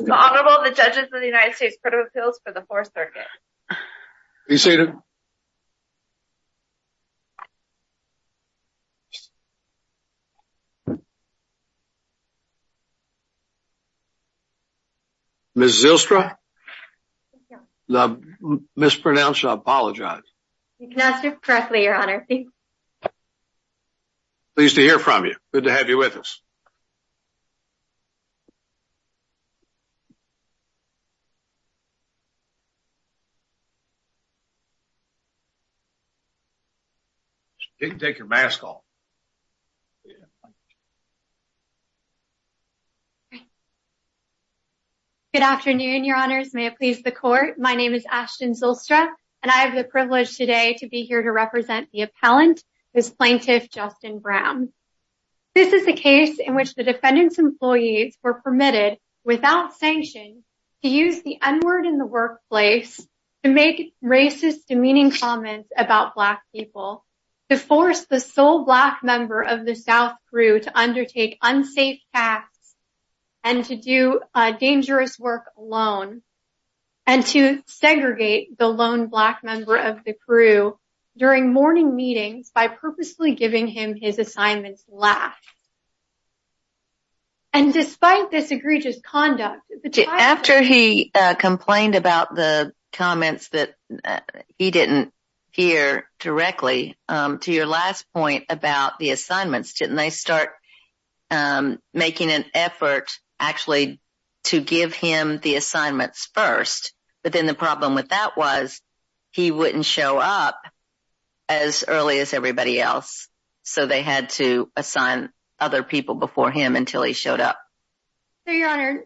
Honorable the Judges of the United States Court of Appeals for the Fourth Circuit. Ms. Zylstra. I mispronounced. I apologize. You can ask it correctly, your honor. Pleased to hear from you. Good to have you with us. You can take your mask off. Good afternoon, your honors. May it please the court. My name is Ashton Zylstra, and I have the privilege today to be here to represent the appellant, this plaintiff, Justin Brown. This is a case in which the defendant's employees were permitted without sanction to use the n-word in the workplace to make racist, demeaning comments about Black people, to force the sole Black member of the South crew to undertake unsafe tasks and to do dangerous work alone, and to segregate the lone Black member of the crew during morning meetings by purposely giving him his assignment's laugh. And despite this egregious conduct... After he complained about the comments that he didn't hear directly, to your last point about the assignments, didn't they start making an effort actually to give him the assignments first, but then the problem with that was he wouldn't show up as early as everybody else, so they had to assign other people before him until he showed up. So, your honor,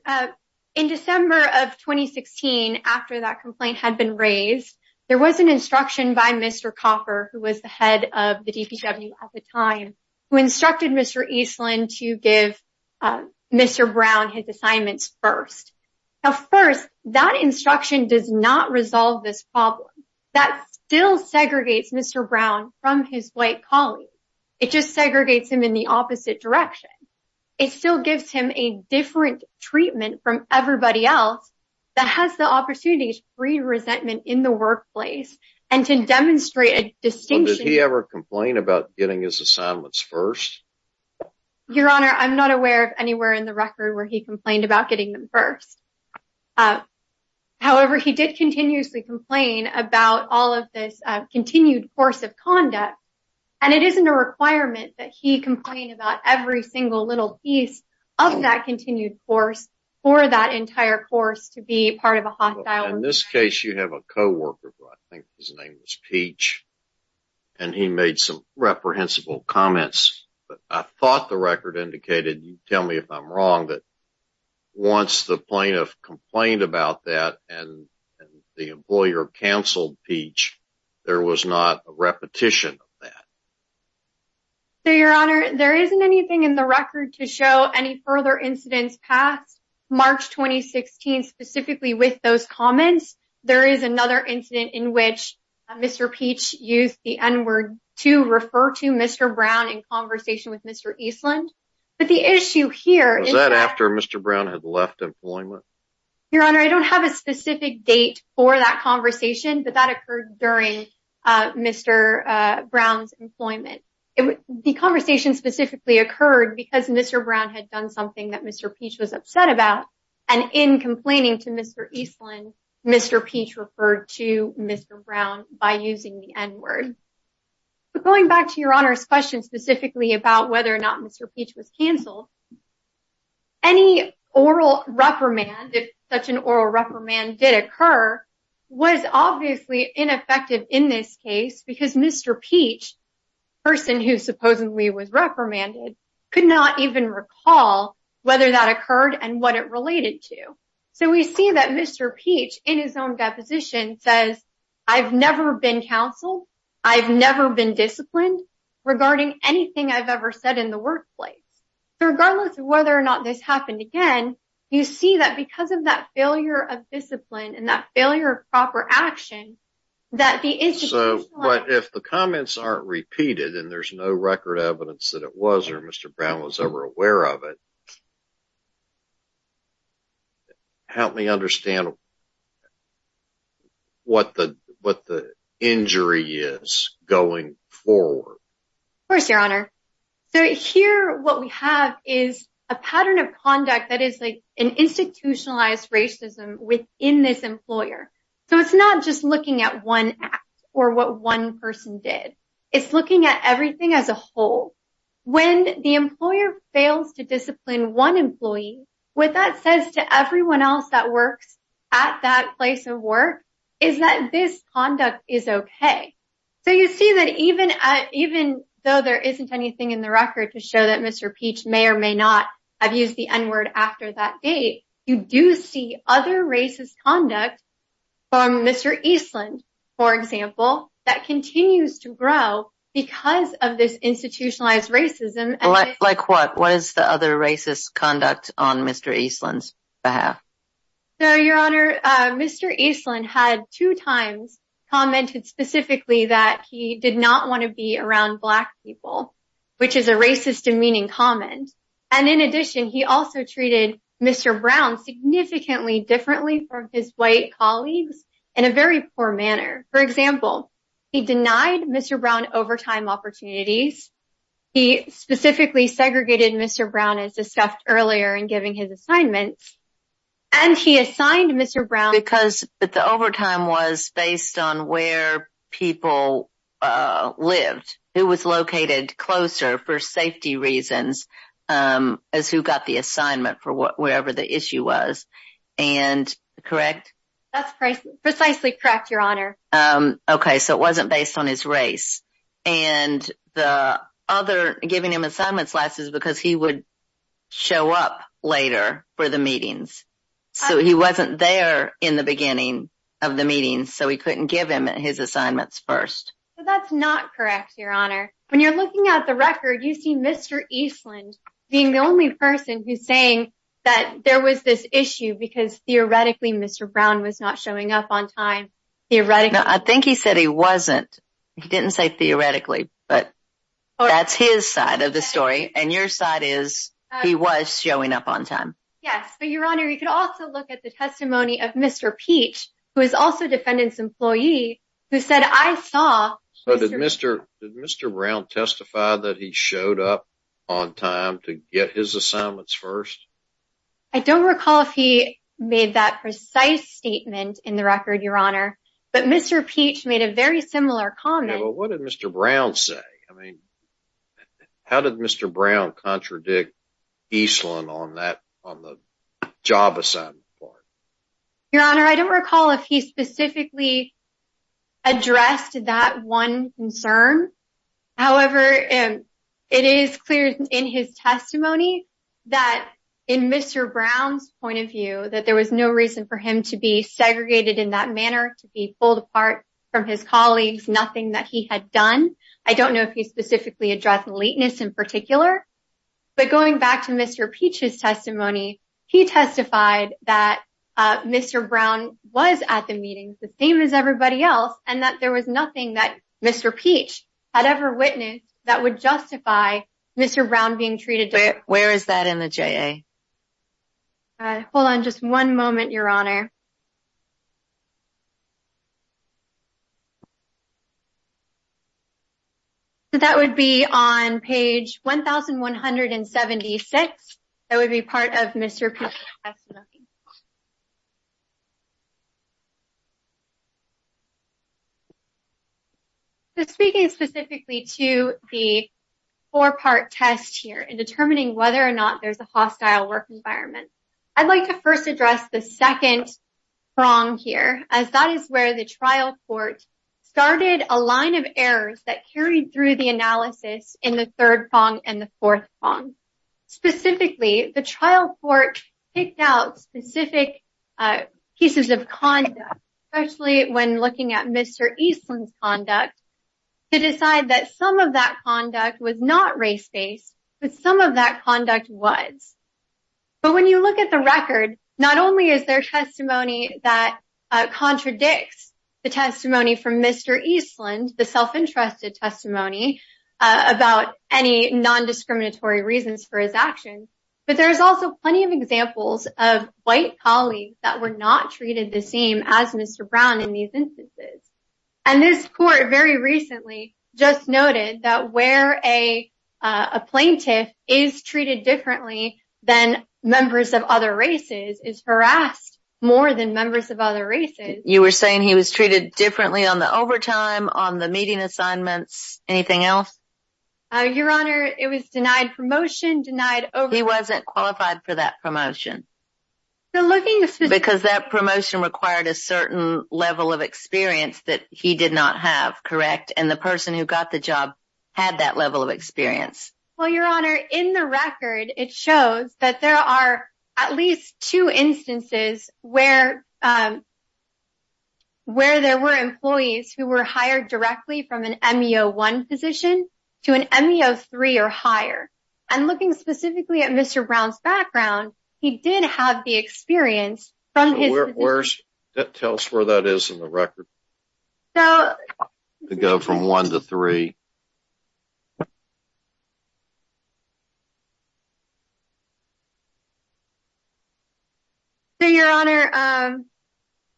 in December of 2016, after that complaint had been raised, there was an instruction by Mr. Coffer, who was the head of the DPW at the time, who instructed Mr. Eastland to give Mr. Brown his assignments first. Now, first, that instruction does not resolve this problem. That still segregates Mr. Brown from his White colleagues. It just segregates him in the opposite direction. It still gives him a different treatment from everybody else that has the opportunity to free resentment in the workplace and to demonstrate a distinction... Did he ever complain about getting his assignments first? Your honor, I'm not aware of anywhere in the record where he complained about getting them first. However, he did continuously complain about all of this continued force of conduct, and it isn't a requirement that he complain about every single little piece of that continued force for that entire course to be part of a hostile... In this case, you have a co-worker, who I think his name was Peach, and he made some reprehensible comments, but I thought the record indicated, tell me if I'm wrong, that once the plaintiff complained about that and the employer canceled Peach, there was not a repetition of that. So, your honor, there isn't anything in the record to show any further incidents past March 2016 specifically with those comments. There is another incident in which Mr. Peach used the n-word to refer to Mr. Brown in conversation with Mr. Eastland, but the issue here... Was that after Mr. Brown had left employment? Your honor, I don't have a specific date for that conversation, but that occurred during Mr. Brown's employment. The conversation specifically occurred because Mr. Brown had done something that Mr. Peach was upset about, and in complaining to Mr. Eastland, Mr. Peach referred to Mr. Brown by using the n-word. But going back to your honor's question specifically about whether or not Mr. Peach was canceled, any oral reprimand, if such an oral reprimand did occur, was obviously ineffective in this case because Mr. Peach, the person who supposedly was reprimanded, could not even recall whether that occurred and what it related to. So, we see that Mr. Peach, in his own deposition, says, I've never been counseled. I've never been disciplined regarding anything I've ever said in the workplace. So, regardless of whether or not this happened again, you see that because of that failure of discipline and that failure of proper action, that the institution... So, but if the comments aren't repeated and there's no record evidence that it was or Mr. Brown was ever aware of it, help me understand what the injury is going forward. Of course, your honor. So, here what we have is a pattern of conduct that is like an institutionalized racism within this employer. So, it's not just looking at one act or what one person did. It's looking at everything as a whole. When the employer fails to discipline one employee, what that says to everyone else that works at that place of work is that this conduct is okay. So, you see that even though there isn't anything in the record to show that Mr. Peach may or may not have used the N-word after that date, you do see other racist conduct from Mr. Eastland, for example, that continues to grow because of institutionalized racism. Like what? What is the other racist conduct on Mr. Eastland's behalf? So, your honor, Mr. Eastland had two times commented specifically that he did not want to be around black people, which is a racist demeaning comment. And in addition, he also treated Mr. Brown significantly differently from his white colleagues in a very poor manner. For He specifically segregated Mr. Brown, as discussed earlier in giving his assignments. And he assigned Mr. Brown... Because the overtime was based on where people lived, who was located closer for safety reasons as who got the assignment for whatever the issue was. And correct? That's precisely correct, your honor. Okay, so it wasn't based on his race. And the other giving him assignments last is because he would show up later for the meetings. So he wasn't there in the beginning of the meeting. So he couldn't give him his assignments first. That's not correct, your honor. When you're looking at the record, you see Mr. Eastland being the only person who's saying that there was this issue because theoretically, Mr. Brown was showing up on time. I think he said he wasn't. He didn't say theoretically, but that's his side of the story. And your side is he was showing up on time. Yes, but your honor, you could also look at the testimony of Mr. Peach, who is also defendant's employee, who said, I saw... So did Mr. Brown testify that he showed up on time to get his assignments first? I don't recall if he made that precise statement in the record, your honor. But Mr. Peach made a very similar comment. Well, what did Mr. Brown say? I mean, how did Mr. Brown contradict Eastland on that on the job assignment part? Your honor, I don't recall if he specifically addressed that one concern. However, it is clear in his testimony that in Mr. Brown's point of view, that there was no reason for him to be segregated in that manner, to be pulled apart from his colleagues, nothing that he had done. I don't know if he specifically addressed lateness in particular, but going back to Mr. Peach's testimony, he testified that Mr. Brown was at the meetings, the same as everybody else, and that there was nothing that Mr. Peach had ever witnessed that would justify Mr. Brown being treated differently. Where is that in the JA? Hold on just one moment, your honor. That would be on page 1176. That would be part of Mr. Peach's testimony. So, speaking specifically to the four-part test here in determining whether or not there's a hostile work environment, I'd like to first address the second prong here, as that is where the trial court started a line of errors that carried through the analysis in the third prong and the fourth prong. Specifically, the trial court picked out specific pieces of conduct, especially when looking at Mr. Eastland's conduct, to decide that some of that conduct was not race-based, but some of that conduct was. But when you look at the record, not only is there testimony that contradicts the testimony from Mr. Eastland, the self-entrusted testimony about any non-discriminatory reasons for his actions, but there's also plenty of examples of white colleagues that were not treated the same as Mr. Brown in these instances. And this court very recently just noted that where a plaintiff is treated differently than members of other races is harassed more than members of other races. You were saying he was treated differently on the overtime, on the meeting assignments, anything else? Your honor, it was denied promotion, denied... He wasn't qualified for that promotion. Because that promotion required a certain level of experience that he did not have, correct? And the person who got the job had that level of experience. Well, your honor, in the record it shows that there are at least two instances where there were employees who were hired directly from an ME01 position to an ME03 or higher. And looking specifically at Mr. Eastland, he did have the experience from his... Tell us where that is in the record. So... Go from one to three. So, your honor,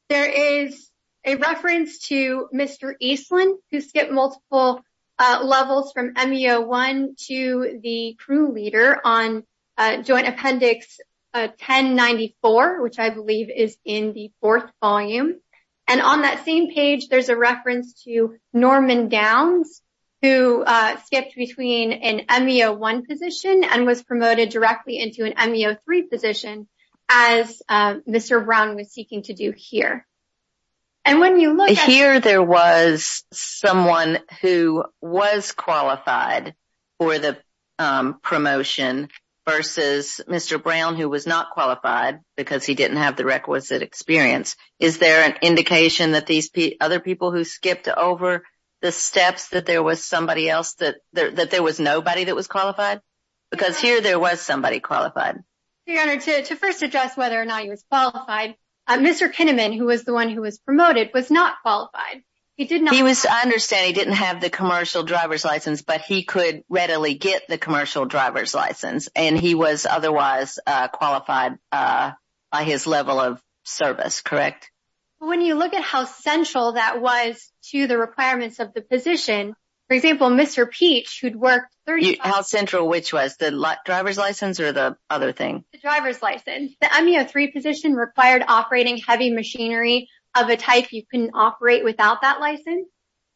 there is a reference to Mr. Eastland who skipped multiple levels from ME01 to the crew leader on Joint Appendix 1094, which I believe is in the fourth volume. And on that same page, there's a reference to Norman Downs who skipped between an ME01 position and was promoted directly into an ME03 position as Mr. Brown was seeking to do here. And when you look at... For the promotion versus Mr. Brown who was not qualified because he didn't have the requisite experience, is there an indication that these other people who skipped over the steps that there was somebody else that... That there was nobody that was qualified? Because here there was somebody qualified. Your honor, to first address whether or not he was qualified, Mr. Kinnaman, who was the one who was promoted, was not qualified. He did not... Get the commercial driver's license and he was otherwise qualified by his level of service, correct? When you look at how central that was to the requirements of the position, for example, Mr. Peach, who'd worked... How central which was? The driver's license or the other thing? The driver's license. The ME03 position required operating heavy machinery of a type you couldn't operate without that license.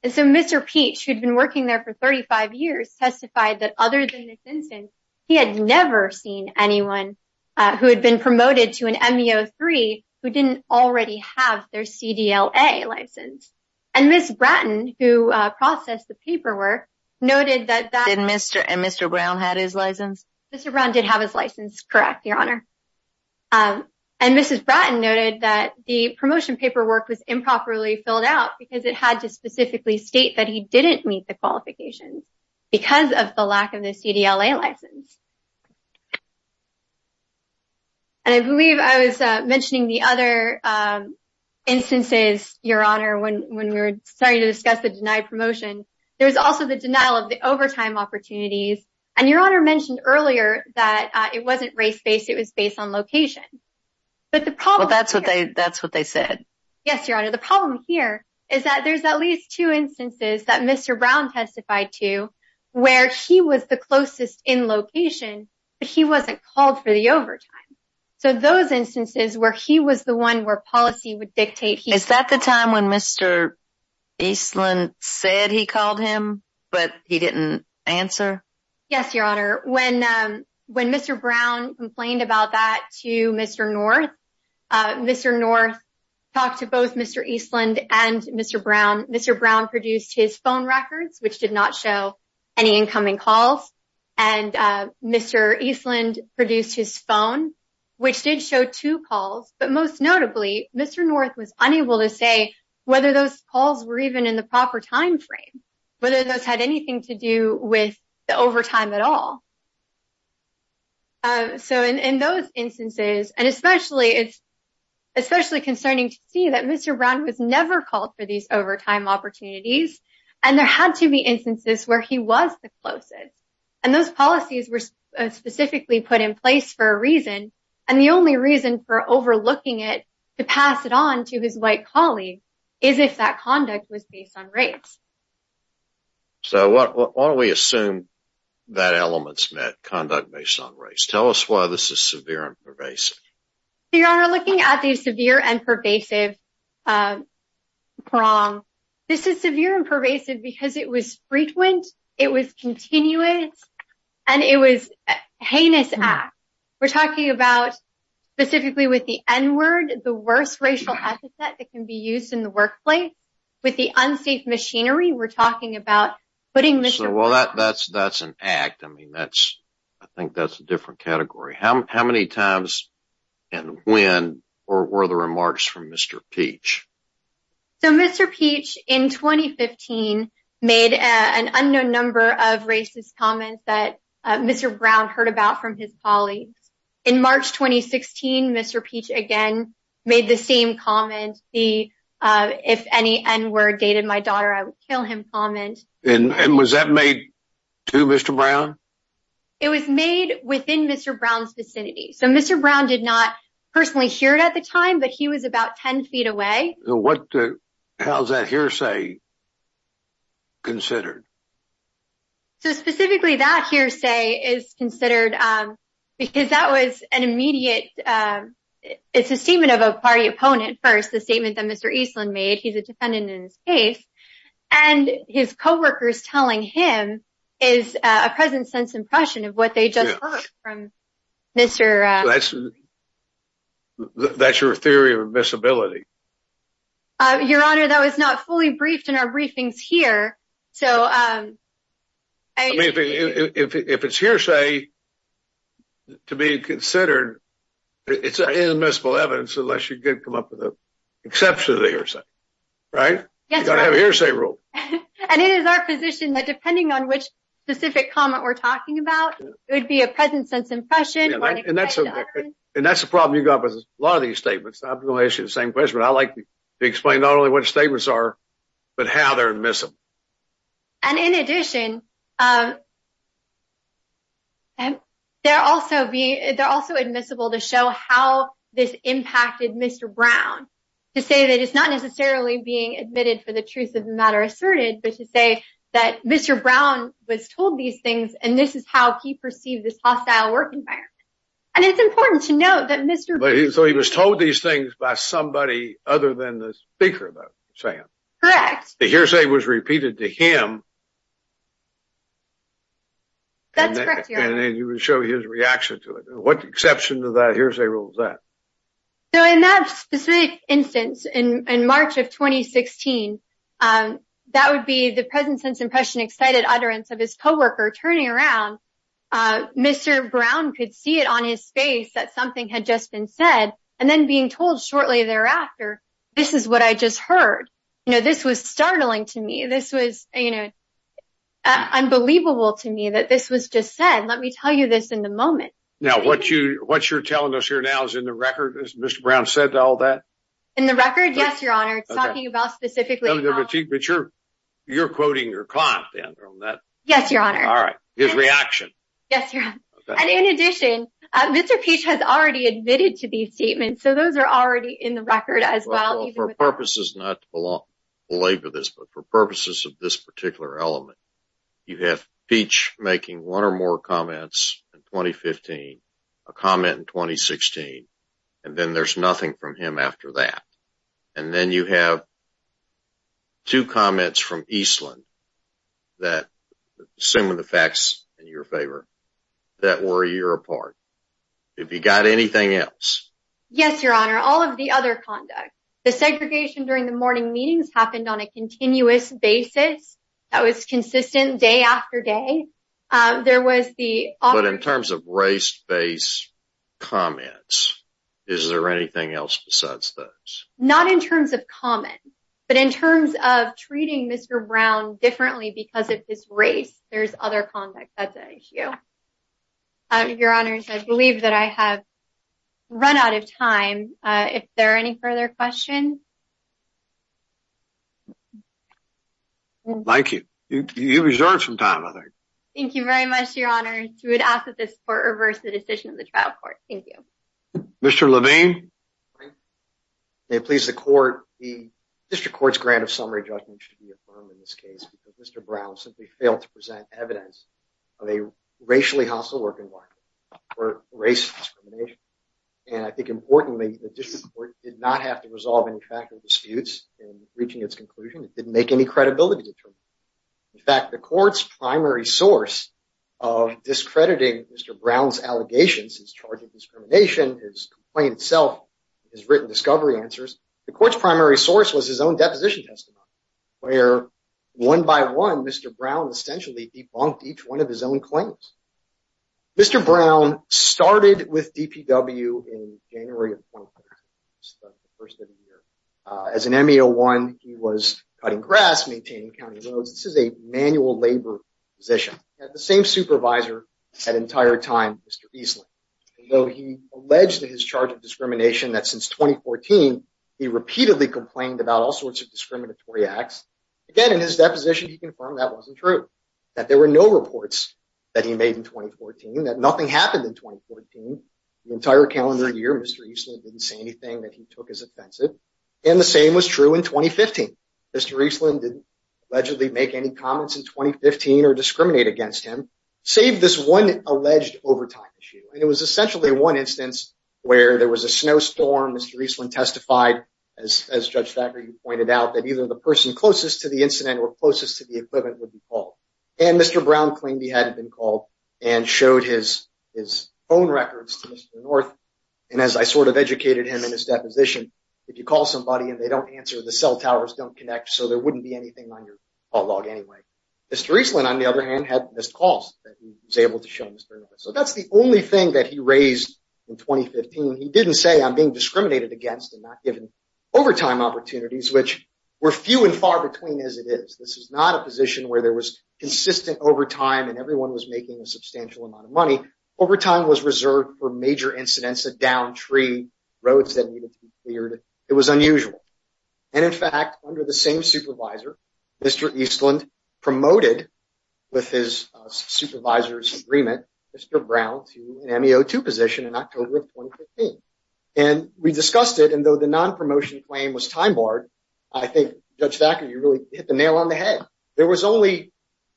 And so Mr. Peach, who'd been working there for 35 years, testified that other than this instance, he had never seen anyone who had been promoted to an ME03 who didn't already have their CDLA license. And Ms. Bratton, who processed the paperwork, noted that... And Mr. Brown had his license? Mr. Brown did have his license, correct, your honor. And Mrs. Bratton noted that the promotion paperwork was improperly filled out because it had to specifically state that he didn't meet the qualifications because of the lack of the CDLA license. And I believe I was mentioning the other instances, your honor, when we were starting to discuss the denied promotion, there was also the denial of the overtime opportunities. And your honor mentioned earlier that it wasn't race-based, it was based on location. But the problem... Well, that's what they said. Yes, your honor. The problem here is that there's at least two instances that Mr. Brown testified to where he was the closest in location, but he wasn't called for the overtime. So those instances where he was the one where policy would dictate... Is that the time when Mr. Eastland said he called him, but he didn't answer? Yes, your honor. When Mr. Brown complained about that to Mr. North, Mr. North talked to both Mr. Eastland and Mr. Brown. Mr. Brown produced his phone records, which did not show any incoming calls, and Mr. Eastland produced his phone, which did show two calls. But most notably, Mr. North was unable to say whether those calls were even in the proper time frame, whether those had anything to do with the overtime at all. So in those instances, and especially concerning to see that Mr. Brown was never called for these overtime opportunities, and there had to be instances where he was the closest. And those policies were specifically put in place for a reason, and the only reason for overlooking it to pass it on to his white colleague is if that conduct was based on race. So why don't we assume that elements met conduct based on race? Tell us why this is severe and pervasive. Your honor, looking at the severe and pervasive prong, this is severe and pervasive because it was frequent, it was continuous, and it was a heinous act. We're talking about specifically with the N-word, the worst racial epithet that can be used in the workplace. With the unsafe machinery, we're talking about putting Mr. Brown... Well, that's an act. I mean, that's, I think that's a different category. How many times and when were the remarks from Mr. Peach? So Mr. Peach, in 2015, made an unknown number of racist comments that Mr. Brown heard about from his colleagues. In March 2016, Mr. Peach again made the same comment, the if any N-word dated my daughter, I would kill him comment. And was that made to Mr. Brown? It was made within Mr. Brown's vicinity. So Mr. Brown did not personally hear it at the time, but he was about 10 feet away. What, how is that hearsay considered? So specifically that hearsay is considered because that was an immediate, it's a statement of a party opponent. First, the statement that Mr. Eastland made, he's a defendant in his case, and his coworkers telling him is a present sense impression of what they just heard from Mr. Brown. That's your theory of admissibility? Your Honor, that was not fully briefed in our briefings here. So if it's hearsay to be considered, it's inadmissible evidence, unless you come up with an exception to the hearsay, right? You've got to have a hearsay rule. And it is our position that depending on which specific comment we're talking about, it would be a present sense impression. And that's the problem you got with a lot of these statements. I'm going to ask you the same question, but I like to explain not only what statements are, but how they're admissible. And in addition, they're also admissible to show how this impacted Mr. Brown, to say that it's not necessarily being admitted for the truth of the matter asserted, but to say that Mr. Brown was told these things, and this is how he perceived this hostile work environment. And it's important to note that Mr. Brown... So he was told these things by somebody other than the speaker about Sam? Correct. The hearsay was repeated to him. That's correct, Your Honor. And then you would show his reaction to it. What exception to that rule? In that specific instance, in March of 2016, that would be the present sense impression excited utterance of his coworker turning around. Mr. Brown could see it on his face that something had just been said, and then being told shortly thereafter, this is what I just heard. This was startling to me. This was unbelievable to me that this was just said. Let me tell you this in the moment. Now, what you're telling us here now is in the record, as Mr. Brown said all that? In the record? Yes, Your Honor. It's talking about specifically... You're quoting your client then on that? Yes, Your Honor. All right. His reaction? Yes, Your Honor. And in addition, Mr. Peach has already admitted to these statements. So those are already in the record as well. For purposes not to belabor this, but for purposes of this particular element, you have Peach making one or more comments in 2015, a comment in 2016, and then there's nothing from him after that. And then you have two comments from Eastland that, assuming the facts in your favor, that were a year apart. Have you got anything else? Yes, Your Honor. All of the other conduct. The segregation during the morning meetings happened on a continuous basis. That was consistent day after day. There was the... But in terms of race-based comments, is there anything else besides those? Not in terms of comment, but in terms of treating Mr. Brown differently because of his race, there's other conduct that's at issue. Your Honors, I believe that I have run out of time. If there are any further questions? No. Thank you. You reserved some time, I think. Thank you very much, Your Honors. We would ask that this Court reverse the decision of the trial court. Thank you. Mr. Levine? May it please the Court, the District Court's grant of summary judgment should be affirmed in this case because Mr. Brown simply failed to present evidence of a racially hostile working environment for race discrimination. And I think importantly, the District Court did not have to make any credibility determination. In fact, the Court's primary source of discrediting Mr. Brown's allegations, his charge of discrimination, his complaint itself, his written discovery answers, the Court's primary source was his own deposition testimony, where one by one, Mr. Brown essentially debunked each one of his own claims. Mr. Brown started with DPW in January of the first of the year. As an ME01, he was cutting grass, maintaining county roads. This is a manual labor position. He had the same supervisor that entire time, Mr. Eastland. And though he alleged in his charge of discrimination that since 2014, he repeatedly complained about all sorts of discriminatory acts. Again, in his deposition, he confirmed that wasn't true, that there were no reports that he made in 2014, that nothing happened in 2014. The entire calendar year, Mr. Eastland didn't say anything that he took as offensive. And the same was true in 2015. Mr. Eastland didn't allegedly make any comments in 2015 or discriminate against him, save this one alleged overtime issue. And it was essentially one instance where there was a snowstorm. Mr. Eastland testified, as Judge Thacker, you pointed out that either the person closest to the incident or closest to the equivalent would be called. And Mr. Brown claimed he hadn't been called and showed his own records to Mr. North. And as I sort of educated him in his deposition, if you call somebody and they don't answer, the cell towers don't connect. So there wouldn't be anything on your log anyway. Mr. Eastland, on the other hand, had missed calls that he was able to show Mr. North. So that's the only thing that he raised in 2015. He didn't say I'm being discriminated against and not given overtime opportunities, which were few and far between as it is. This is not a position where there was consistent overtime and everyone was making a substantial amount of money. Overtime was reserved for major incidents, a downed tree, roads that needed to be cleared. It was unusual. And in fact, under the same supervisor, Mr. Eastland promoted with his supervisor's agreement, Mr. Brown to an MEO2 position in October of 2015. And we discussed it. And though the non-promotion claim was time barred, I think, Judge Thacker, you really hit the nail on the head. There was only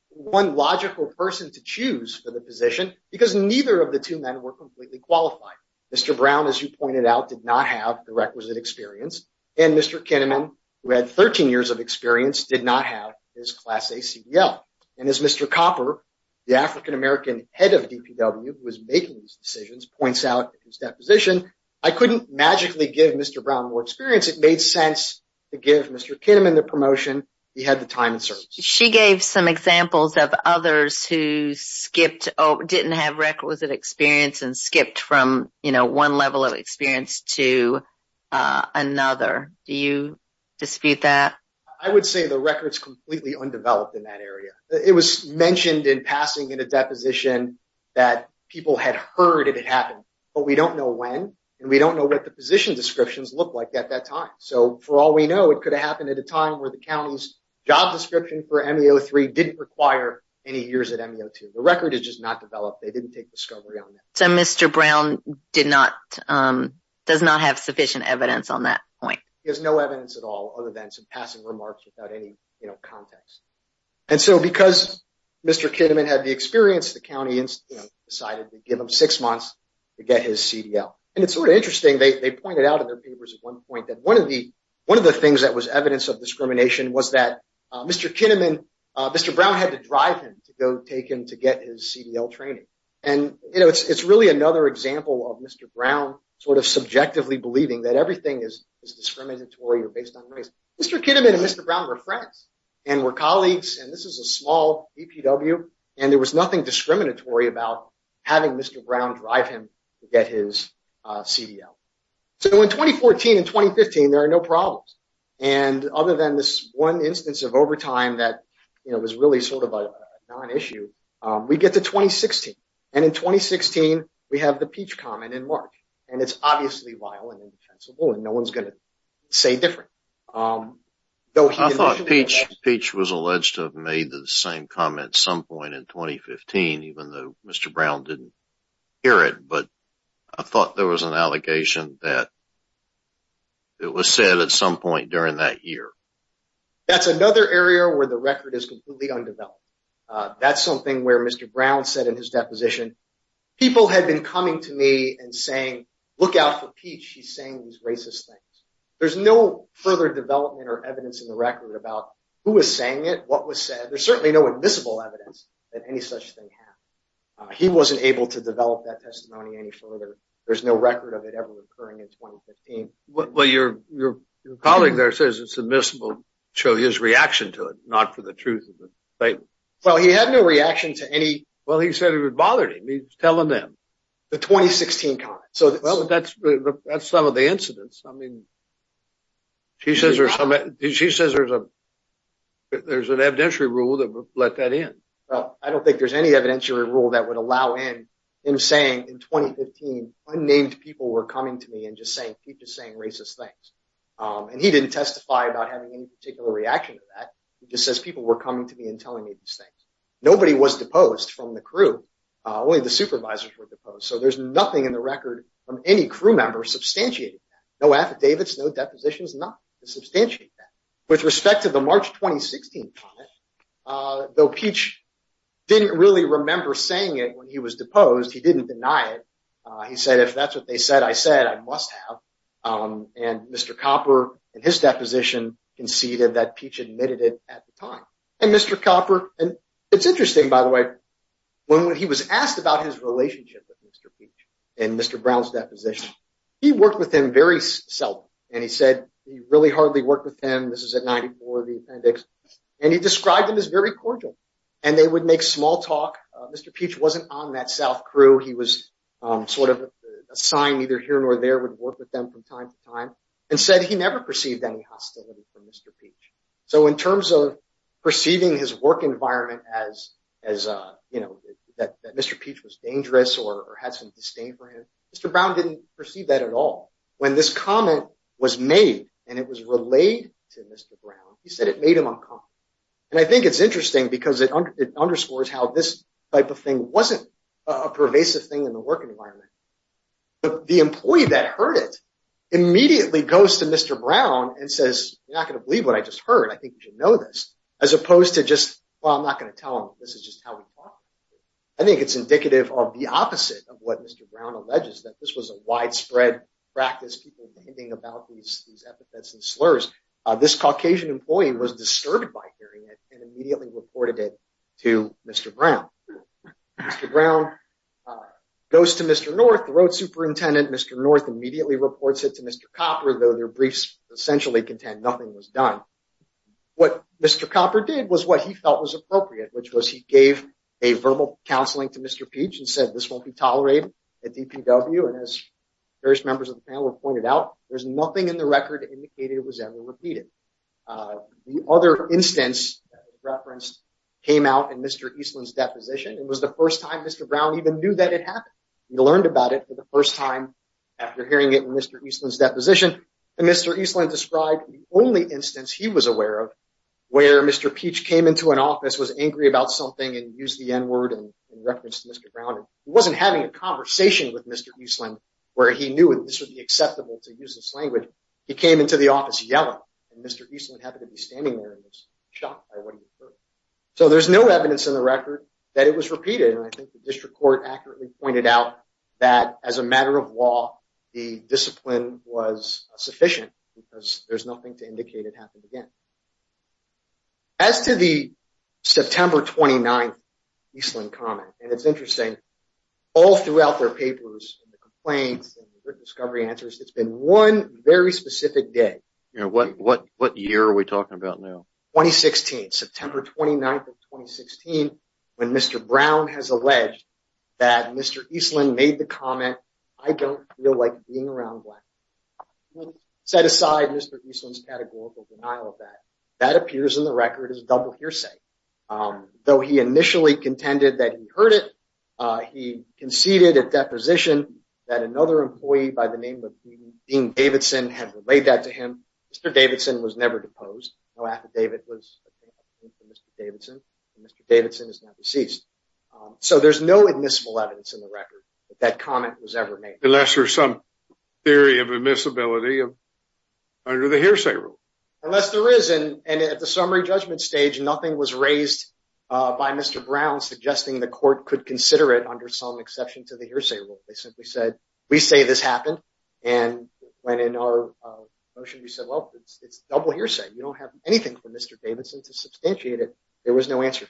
one logical person to choose for the position because neither of the two men were completely qualified. Mr. Brown, as you pointed out, did not have the requisite experience. And Mr. Kinnaman, who had 13 years of experience, did not have his class A CDL. And as Mr. Copper, the African-American head of DPW, who was making these decisions, points out in his deposition, I couldn't magically give Mr. Brown more experience. It made sense to give Mr. Kinnaman the promotion. He had the time and service. She gave some examples of others who skipped, didn't have requisite experience and skipped from, you know, one level of experience to another. Do you dispute that? I would say the record's completely undeveloped in that area. It was mentioned in passing in a position that people had heard it had happened, but we don't know when and we don't know what the position descriptions looked like at that time. So for all we know, it could have happened at a time where the county's job description for MEO 3 didn't require any years at MEO 2. The record is just not developed. They didn't take discovery on that. So Mr. Brown did not, does not have sufficient evidence on that point. He has no evidence at all other than some passing remarks without any, you know, context. And so because Mr. Kinnaman had the experience, the county decided to give him six months to get his CDL. And it's sort of interesting, they pointed out in their papers at one point that one of the, one of the things that was evidence of discrimination was that Mr. Kinnaman, Mr. Brown had to drive him to go take him to get his CDL training. And, you know, it's really another example of Mr. Brown sort of subjectively believing that everything is discriminatory or based on race. Mr. Kinnaman and Mr. Brown were friends and were colleagues and this is a small EPW and there was nothing discriminatory about having Mr. Brown drive him to get his CDL. So in 2014 and 2015, there are no problems. And other than this one instance of overtime that, you know, was really sort of a non-issue, we get to 2016. And in 2016, we have the Peach comment in March. And it's obviously vile and indefensible and no one's going to say different. I thought Peach was alleged to have made the same comment some point in 2015, even though Mr. Brown didn't hear it. But I thought there was an allegation that it was said at some point during that year. That's another area where the record is completely undeveloped. That's something where Mr. Brown said in his deposition, people had been coming to me and saying, look out for Peach. He's saying these racist things. There's no further development or evidence in the record about who was saying it, what was said. There's certainly no admissible evidence that any such thing happened. He wasn't able to develop that testimony any further. There's no record of it ever occurring in 2015. Well, your colleague there says it's admissible to show his reaction to it, not for the truth of the statement. Well, he had no reaction to any. Well, he said it would bother him. He's telling them. The 2016 comment. Well, that's some of the incidents. I mean, she says there's an evidentiary rule that would let that in. Well, I don't think there's any evidentiary rule that would allow in him saying in 2015, unnamed people were coming to me and keep just saying racist things. And he didn't testify about having any particular reaction to that. He just says people were coming to me and telling me these things. Nobody was deposed from the crew. Only the supervisors were deposed. So there's nothing in the record from any crew member substantiating that. No affidavits, no depositions, nothing to substantiate that. With respect to the March 2016 comment, though Peach didn't really remember saying it when he deposed. He didn't deny it. He said if that's what they said, I said I must have. And Mr. Copper in his deposition conceded that Peach admitted it at the time. And Mr. Copper, and it's interesting, by the way, when he was asked about his relationship with Mr. Peach in Mr. Brown's deposition, he worked with him very seldom. And he said he really hardly worked with him. This is at 94, the appendix. And he described him as very cordial. And they would was sort of a sign neither here nor there would work with them from time to time. And said he never perceived any hostility from Mr. Peach. So in terms of perceiving his work environment as that Mr. Peach was dangerous or had some disdain for him, Mr. Brown didn't perceive that at all. When this comment was made and it was relayed to Mr. Brown, he said it made him uncomfortable. And I think it's interesting because it underscores how this type of thing wasn't a pervasive thing in the work environment. But the employee that heard it immediately goes to Mr. Brown and says, you're not going to believe what I just heard. I think you should know this. As opposed to just, well, I'm not going to tell him. This is just how we talk. I think it's indicative of the opposite of what Mr. Brown alleges, that this was a widespread practice, about these epithets and slurs. This Caucasian employee was disturbed by hearing it and immediately reported it to Mr. Brown. Mr. Brown goes to Mr. North, the road superintendent. Mr. North immediately reports it to Mr. Copper, though their briefs essentially contend nothing was done. What Mr. Copper did was what he felt was appropriate, which was he gave a verbal counseling to Mr. Peach and said, this won't be tolerated at DPW. And as various members of the there's nothing in the record that indicated it was ever repeated. The other instance referenced came out in Mr. Eastland's deposition. It was the first time Mr. Brown even knew that it happened. He learned about it for the first time after hearing it in Mr. Eastland's deposition. And Mr. Eastland described the only instance he was aware of where Mr. Peach came into an office, was angry about something, and used the N-word in reference to Mr. Brown. He wasn't having a conversation with Mr. Eastland where he knew that this would be acceptable to use this language. He came into the office yelling, and Mr. Eastland happened to be standing there and was shocked by what he heard. So there's no evidence in the record that it was repeated. And I think the district court accurately pointed out that as a matter of law, the discipline was sufficient because there's nothing to indicate it happened again. As to the September 29th Eastland comment, and it's interesting, all throughout their it's been one very specific day. What year are we talking about now? 2016, September 29th of 2016, when Mr. Brown has alleged that Mr. Eastland made the comment, I don't feel like being around black people. Set aside Mr. Eastland's categorical denial of that, that appears in the record as double hearsay. Though he initially contended that he heard it, he conceded at deposition that another employee by the name of Dean Davidson had relayed that to him. Mr. Davidson was never deposed. No affidavit was made for Mr. Davidson. Mr. Davidson is now deceased. So there's no admissible evidence in the record that that comment was ever made. Unless there's some theory of admissibility under the hearsay rule. Unless there is. And at the summary judgment stage, nothing was raised by Mr. Brown suggesting the court could consider it under some exception to the hearsay rule. They simply said, we say this happened. And when in our motion, we said, well, it's double hearsay. You don't have anything for Mr. Davidson to substantiate it. There was no answer.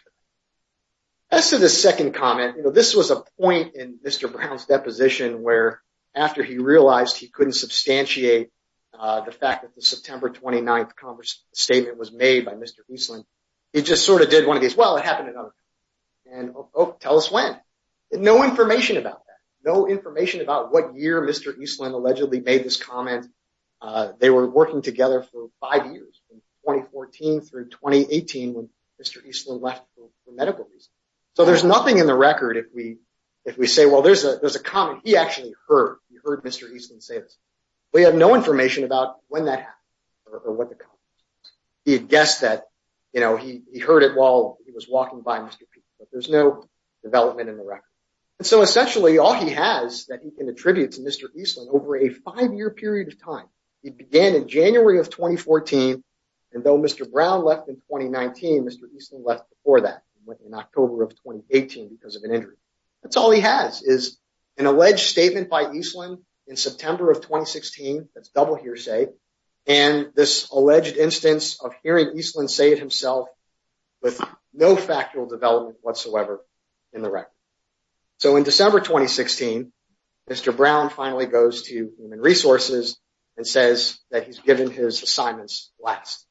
As to the second comment, this was a point in Mr. Brown's deposition where after he realized he couldn't substantiate the fact that the September 29th statement was made by Mr. Eastland, he just sort of did one of these, well, it happened at other times. And tell us when. No information about that. No information about what year Mr. Eastland allegedly made this comment. They were working together for five years, from 2014 through 2018 when Mr. Eastland left for medical reasons. So there's nothing in the record if we say, well, there's a comment he actually heard. He heard Mr. Eastland say this. We have no information about when that happened or what the comment was. He had guessed that, you know, he heard it while he was walking by Mr. Peterson, but there's no development in the record. And so essentially all he has that he can attribute to Mr. Eastland over a five-year period of time, he began in January of 2014. And though Mr. Brown left in 2019, Mr. Eastland left before that and went in October of 2018 because of an injury. That's all he has is an alleged statement by Eastland in September of 2016. That's double hearsay. And this alleged instance of hearing Eastland say it himself with no factual development whatsoever in the record. So in December 2016, Mr. Brown finally goes to Human Resources and says that he's given his assignments last.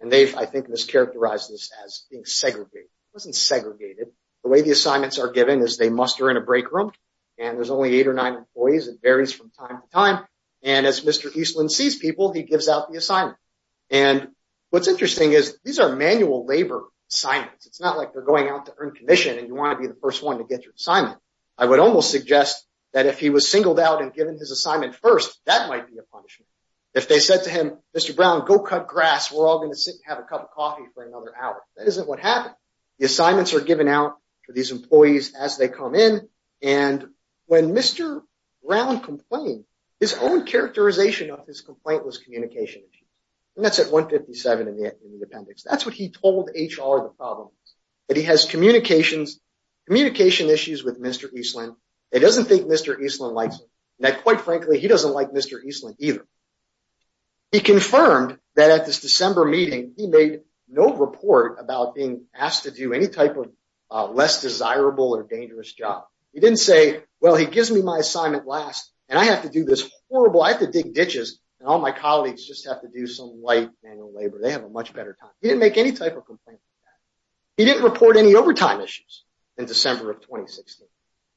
And they've, I think, mischaracterized this as being segregated. It wasn't segregated. The way the assignments are given is they muster in a break room and there's only eight or nine employees. It varies from time to time. And as Mr. Eastland sees people, he gives out the assignment. And what's interesting is these are manual labor assignments. It's not like they're going out to earn commission and you want to be the first one to get your assignment. I would almost suggest that if he was singled out and given his assignment first, that might be a punishment. If they said to him, Mr. Brown, go cut grass, we're all going to sit and have a cup of coffee for another hour. That isn't what happened. The assignments are as they come in. And when Mr. Brown complained, his own characterization of his complaint was communication issues. And that's at 157 in the appendix. That's what he told HR the problem was, that he has communication issues with Mr. Eastland and doesn't think Mr. Eastland likes him. And that, quite frankly, he doesn't like Mr. Eastland either. He confirmed that at this December meeting, he made no report about being asked to do any type of less desirable or dangerous job. He didn't say, well, he gives me my assignment last and I have to do this horrible, I have to dig ditches and all my colleagues just have to do some light manual labor. They have a much better time. He didn't make any type of complaint. He didn't report any overtime issues in December of 2016.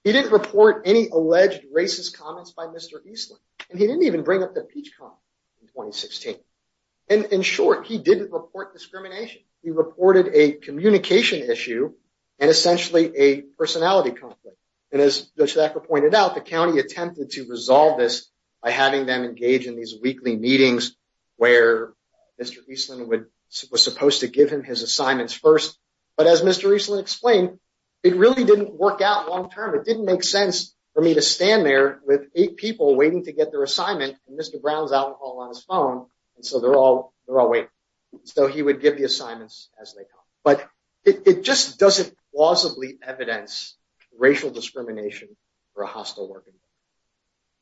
He didn't report any alleged racist comments by Mr. Eastland. And he didn't even bring up in 2016. And in short, he didn't report discrimination. He reported a communication issue and essentially a personality conflict. And as Judge Thacker pointed out, the county attempted to resolve this by having them engage in these weekly meetings where Mr. Eastland was supposed to give him his assignments first. But as Mr. Eastland explained, it really didn't work out long term. It didn't make sense for me to stand there with eight people waiting to get their browns alcohol on his phone. And so they're all, they're all waiting. So he would give the assignments as they come. But it just doesn't plausibly evidence racial discrimination for a hostile working group.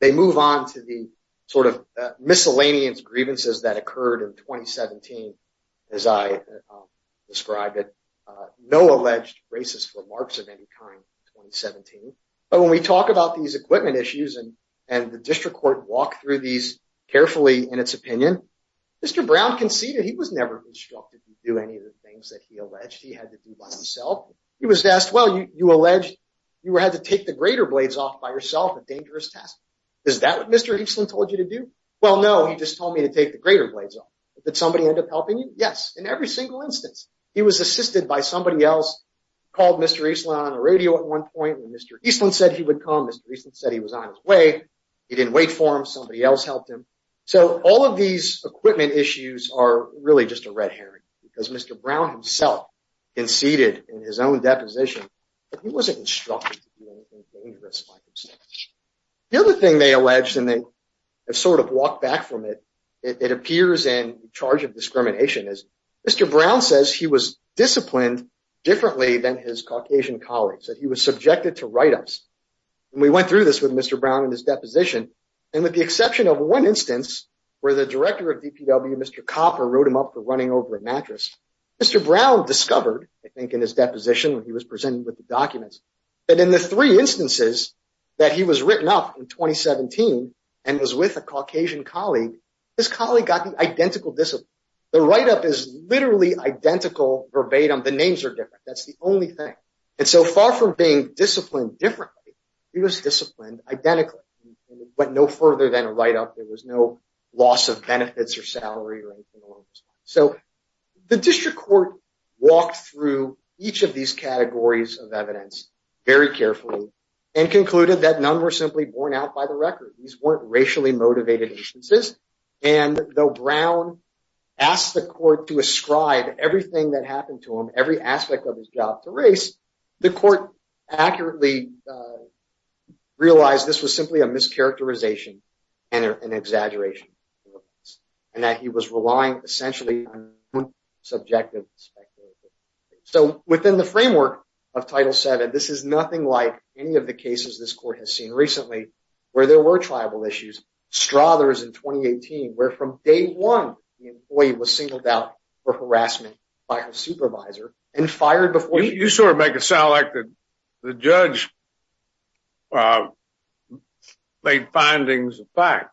They move on to the sort of miscellaneous grievances that occurred in 2017, as I described it, no alleged racist remarks of any kind in 2017. But when we talk about these carefully in its opinion, Mr. Brown conceded he was never instructed to do any of the things that he alleged he had to do by himself. He was asked, well, you alleged you had to take the greater blades off by yourself, a dangerous task. Is that what Mr. Eastland told you to do? Well, no, he just told me to take the greater blades off. Did somebody end up helping you? Yes. In every single instance, he was assisted by somebody else, called Mr. Eastland on a radio at one point, and Mr. Eastland said he would come. Mr. Eastland said he was on his way. He didn't wait for him. Somebody else helped him. So all of these equipment issues are really just a red herring because Mr. Brown himself conceded in his own deposition that he wasn't instructed to do anything dangerous by himself. The other thing they alleged, and they have sort of walked back from it, it appears in charge of discrimination is Mr. Brown says he was disciplined differently than his Caucasian colleagues, that he was subjected to write-ups. And we went through this with Mr. Brown in his deposition, and with the exception of one instance where the director of DPW, Mr. Copper, wrote him up for running over a mattress, Mr. Brown discovered, I think in his deposition when he was presenting with the documents, that in the three instances that he was written up in 2017 and was with a Caucasian colleague, his colleague got the identical discipline. The write-up is literally identical verbatim. The names are different. That's the identical. It went no further than a write-up. There was no loss of benefits or salary or anything along those lines. So the district court walked through each of these categories of evidence very carefully and concluded that none were simply borne out by the record. These weren't racially motivated instances. And though Brown asked the court to ascribe everything that happened to him, every aspect of his job to race, the court accurately realized this was simply a mischaracterization and an exaggeration, and that he was relying essentially on subjective speculation. So within the framework of Title VII, this is nothing like any of the cases this court has seen recently where there were tribal issues. Strothers in 2018, where from day one, the employee was singled out for harassment by her supervisor and fired before he... You sort of make it sound like the judge made findings of fact.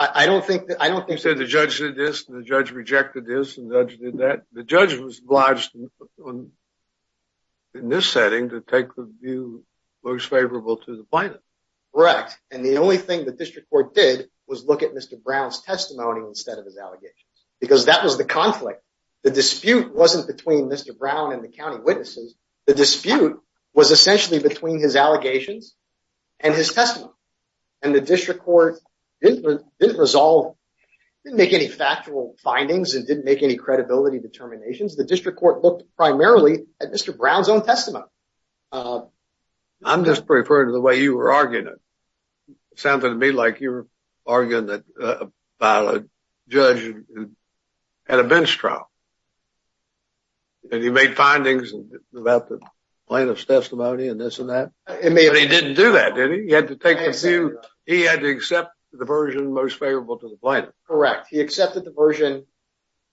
I don't think... You said the judge did this and the judge rejected this and the judge did that. The judge was obliged in this setting to take the view most favorable to the plaintiff. Correct. And the only thing the district court did was look at Mr. Brown's testimony instead of his allegations, because that was the conflict. The dispute wasn't between Mr. Brown and the county witnesses. The dispute was essentially between his allegations and his testimony. And the district court didn't resolve, didn't make any factual findings and didn't make any credibility determinations. The district court looked primarily at Mr. Brown. I'm just referring to the way you were arguing it. It sounded to me like you were arguing about a judge at a bench trial. And he made findings about the plaintiff's testimony and this and that. He didn't do that, did he? He had to accept the version most favorable to the plaintiff. Correct. He accepted the version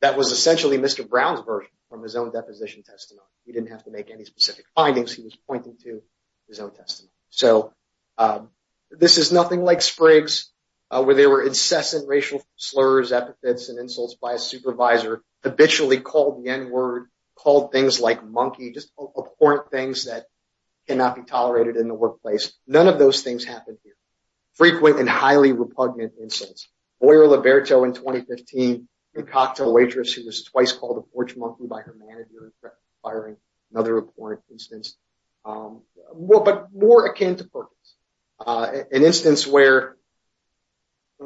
that was essentially Mr. Brown's version from his own deposition testimony. He didn't have to make any specific findings. He was pointing to his own testimony. So this is nothing like Spriggs, where there were incessant racial slurs, epithets, and insults by a supervisor, habitually called the N-word, called things like monkey, just abhorrent things that cannot be tolerated in the workplace. None of those things happened here. Frequent and highly repugnant insults. Boyer-Liberto in 2015, a cocktail waitress who was twice called a porch monkey by her manager, requiring another abhorrent instance. But more akin to purpose. An instance where,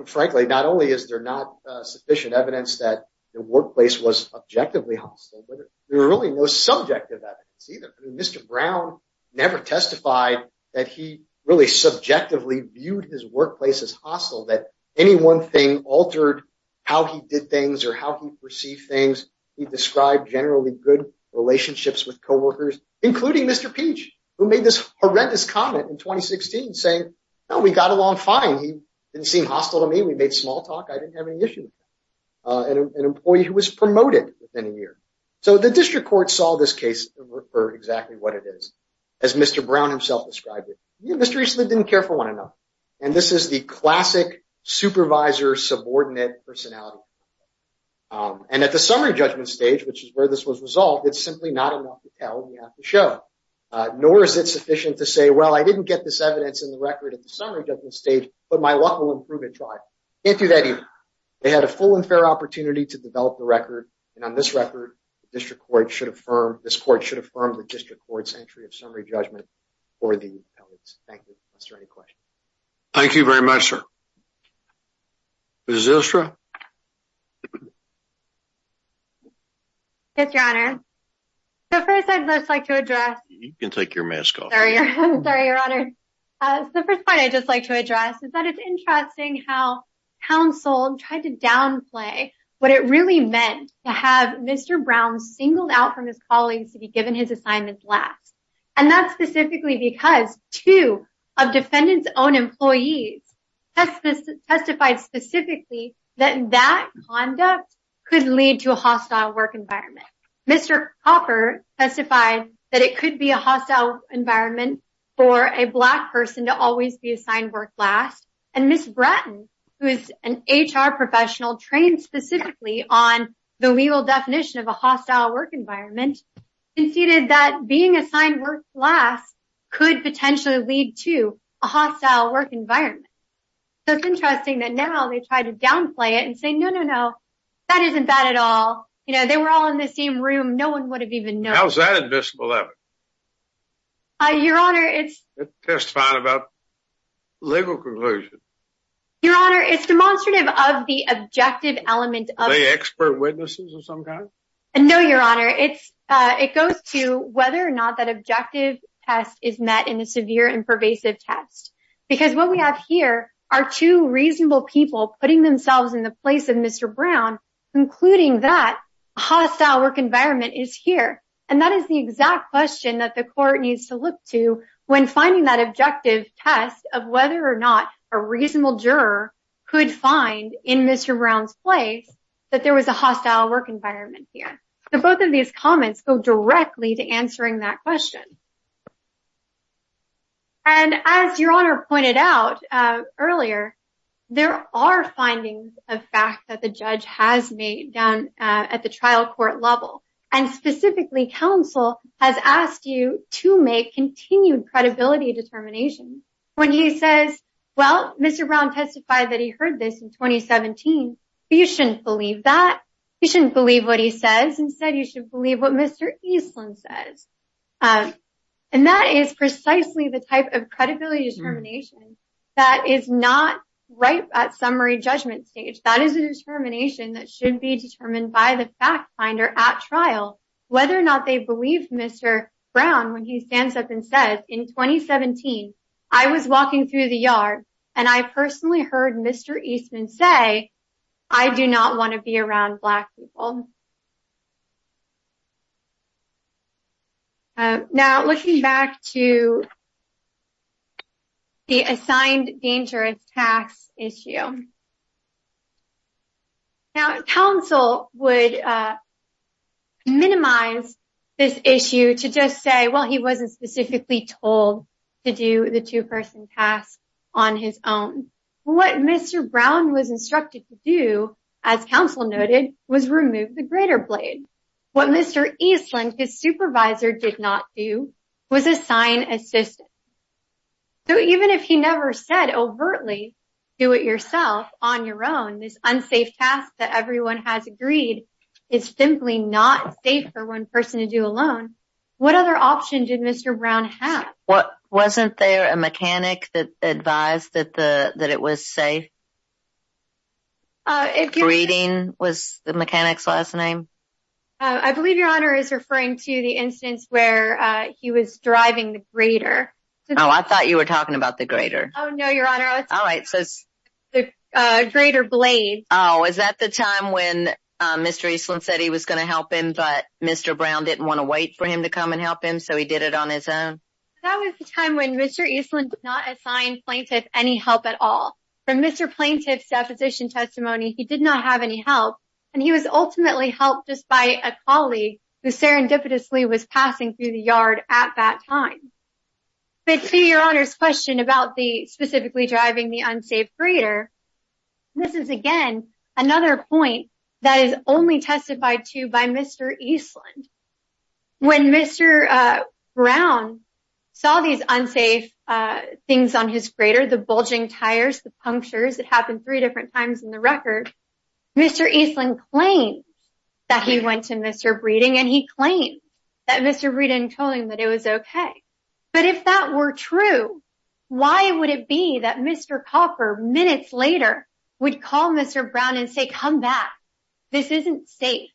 frankly, not only is there not sufficient evidence that the workplace was objectively hostile, but there really was no subjective evidence either. Mr. Brown never testified that he really subjectively viewed his workplace as hostile, that any one thing altered how he did things or how he perceived things. He described generally good relationships with co-workers, including Mr. Peach, who made this horrendous comment in 2016, saying, no, we got along fine. He didn't seem hostile to me. We made small talk. I didn't have any issue with that. An employee who was promoted within a year. So the district court saw this case and referred exactly what it is, as Mr. Brown himself described it. Mr. Eastman didn't care for one another. And this is the classic supervisor-subordinate personality. And at the result, it's simply not enough to tell and you have to show. Nor is it sufficient to say, well, I didn't get this evidence in the record at the summary judgment stage, but my luck will improve at trial. Can't do that either. They had a full and fair opportunity to develop the record. And on this record, the district court should affirm, this court should affirm the district court's entry of summary judgment for the appellate. Thank you. Is there any questions? Thank you very much, sir. Ms. Zylstra. Yes, your honor. The first thing I'd like to address. You can take your mask off. Sorry, your honor. The first point I'd just like to address is that it's interesting how counsel tried to downplay what it really meant to have Mr. Brown singled out from his colleagues to be given his assignments last. And that's specifically because two of his colleagues testified specifically that that conduct could lead to a hostile work environment. Mr. Hopper testified that it could be a hostile environment for a black person to always be assigned work last. And Ms. Bratton, who is an HR professional trained specifically on the legal definition of a hostile work environment, conceded that being assigned work last could potentially lead to a hostile work environment. So it's interesting that now they try to downplay it and say, no, no, no, that isn't bad at all. You know, they were all in the same room. No one would have even known. How's that admissible evidence? Your honor, it's. Testifying about legal conclusion. Your honor, it's demonstrative of the objective element of. Are they expert witnesses of some kind? No, your honor. It's, it goes to whether or not that objective test is met in a severe and pervasive test, because what we have here are two reasonable people putting themselves in the place of Mr. Brown, including that hostile work environment is here. And that is the exact question that the court needs to look to when finding that objective test of whether or not a reasonable juror could find in Mr. Brown's place that there was a hostile work environment here. So both of these comments go directly to answering that question. And as your honor pointed out earlier, there are findings of fact that the judge has made down at the trial court level. And specifically, counsel has asked you to make continued credibility determination when he says, well, Mr. Brown testified that he heard this in 2017. You shouldn't believe that. You shouldn't believe what he says. Instead, you should believe what Mr. Eastman says. And that is precisely the type of credibility determination that is not ripe at summary judgment stage. That is a determination that should be determined by the fact finder at trial, whether or not they believe Mr. Brown, when he stands up and says in 2017, I was walking through the yard, and I personally heard Mr. Eastman say, I do not want to be around black people. Now, looking back to the assigned dangerous tax issue. Now, counsel would minimize this issue to just say, well, he wasn't specifically told to do the two-person task on his own. What Mr. Brown was instructed to do, as counsel noted, was remove the greater blade. What Mr. Eastman, his supervisor, did not do was assign assistance. So even if he never said overtly, do it yourself on your own, this unsafe task that everyone has agreed is simply not safe for one person to do alone. What other option did Mr. Brown have? Wasn't there a mechanic that advised that it was safe? Breeding was the mechanic's last name? I believe your honor is referring to the instance where he was driving the greater. Oh, I thought you were talking about the greater. Oh no, your honor. All right, so it's the greater blade. Oh, is that the time when Mr. Eastman said he was going to help him, but Mr. Brown didn't want to wait for him to come and help him, so he did it on his own? That was the time when Mr. Eastman did not assign plaintiff any help at all. From Mr. Plaintiff's deposition testimony, he did not have any help, and he was ultimately helped just by a colleague who serendipitously was passing through the yard at that time. But to your honor's question about the specifically driving the unsafe greater, this is again another point that is only testified to by Mr. Eastman. When Mr. Brown saw these unsafe things on his greater, the bulging tires, the punctures, it happened three different times in the record, Mr. Eastman claimed that he went to Mr. Breeding, and he claimed that Mr. Breeding told him that it was okay. But if that were true, why would it be that Mr. Copper, minutes later, would call Mr. Brown and say, come back, this isn't safe?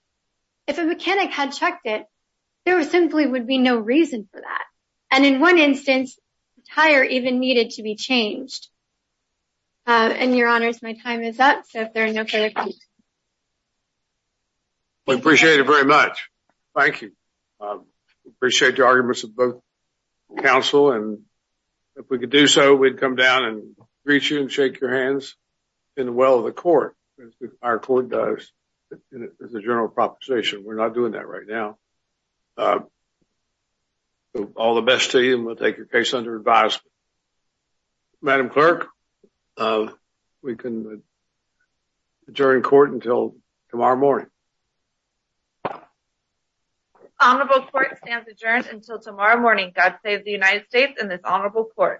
If a mechanic had checked it, there simply would be no reason for that. And in one instance, the tire even needed to be changed. And your honors, my time is up, so if there are no further questions. We appreciate it very much. Thank you. Appreciate your arguments of both counsel, and if we could do so, we'd come down and greet you and shake your hands in the well of the court. Our court does. This is a general proposition. We're not doing that right now. All the best to you, and we'll take your case under advisement. Madam Clerk, we can adjourn court until tomorrow morning. Honorable court stands adjourned until tomorrow morning. God save the United States and this honorable court.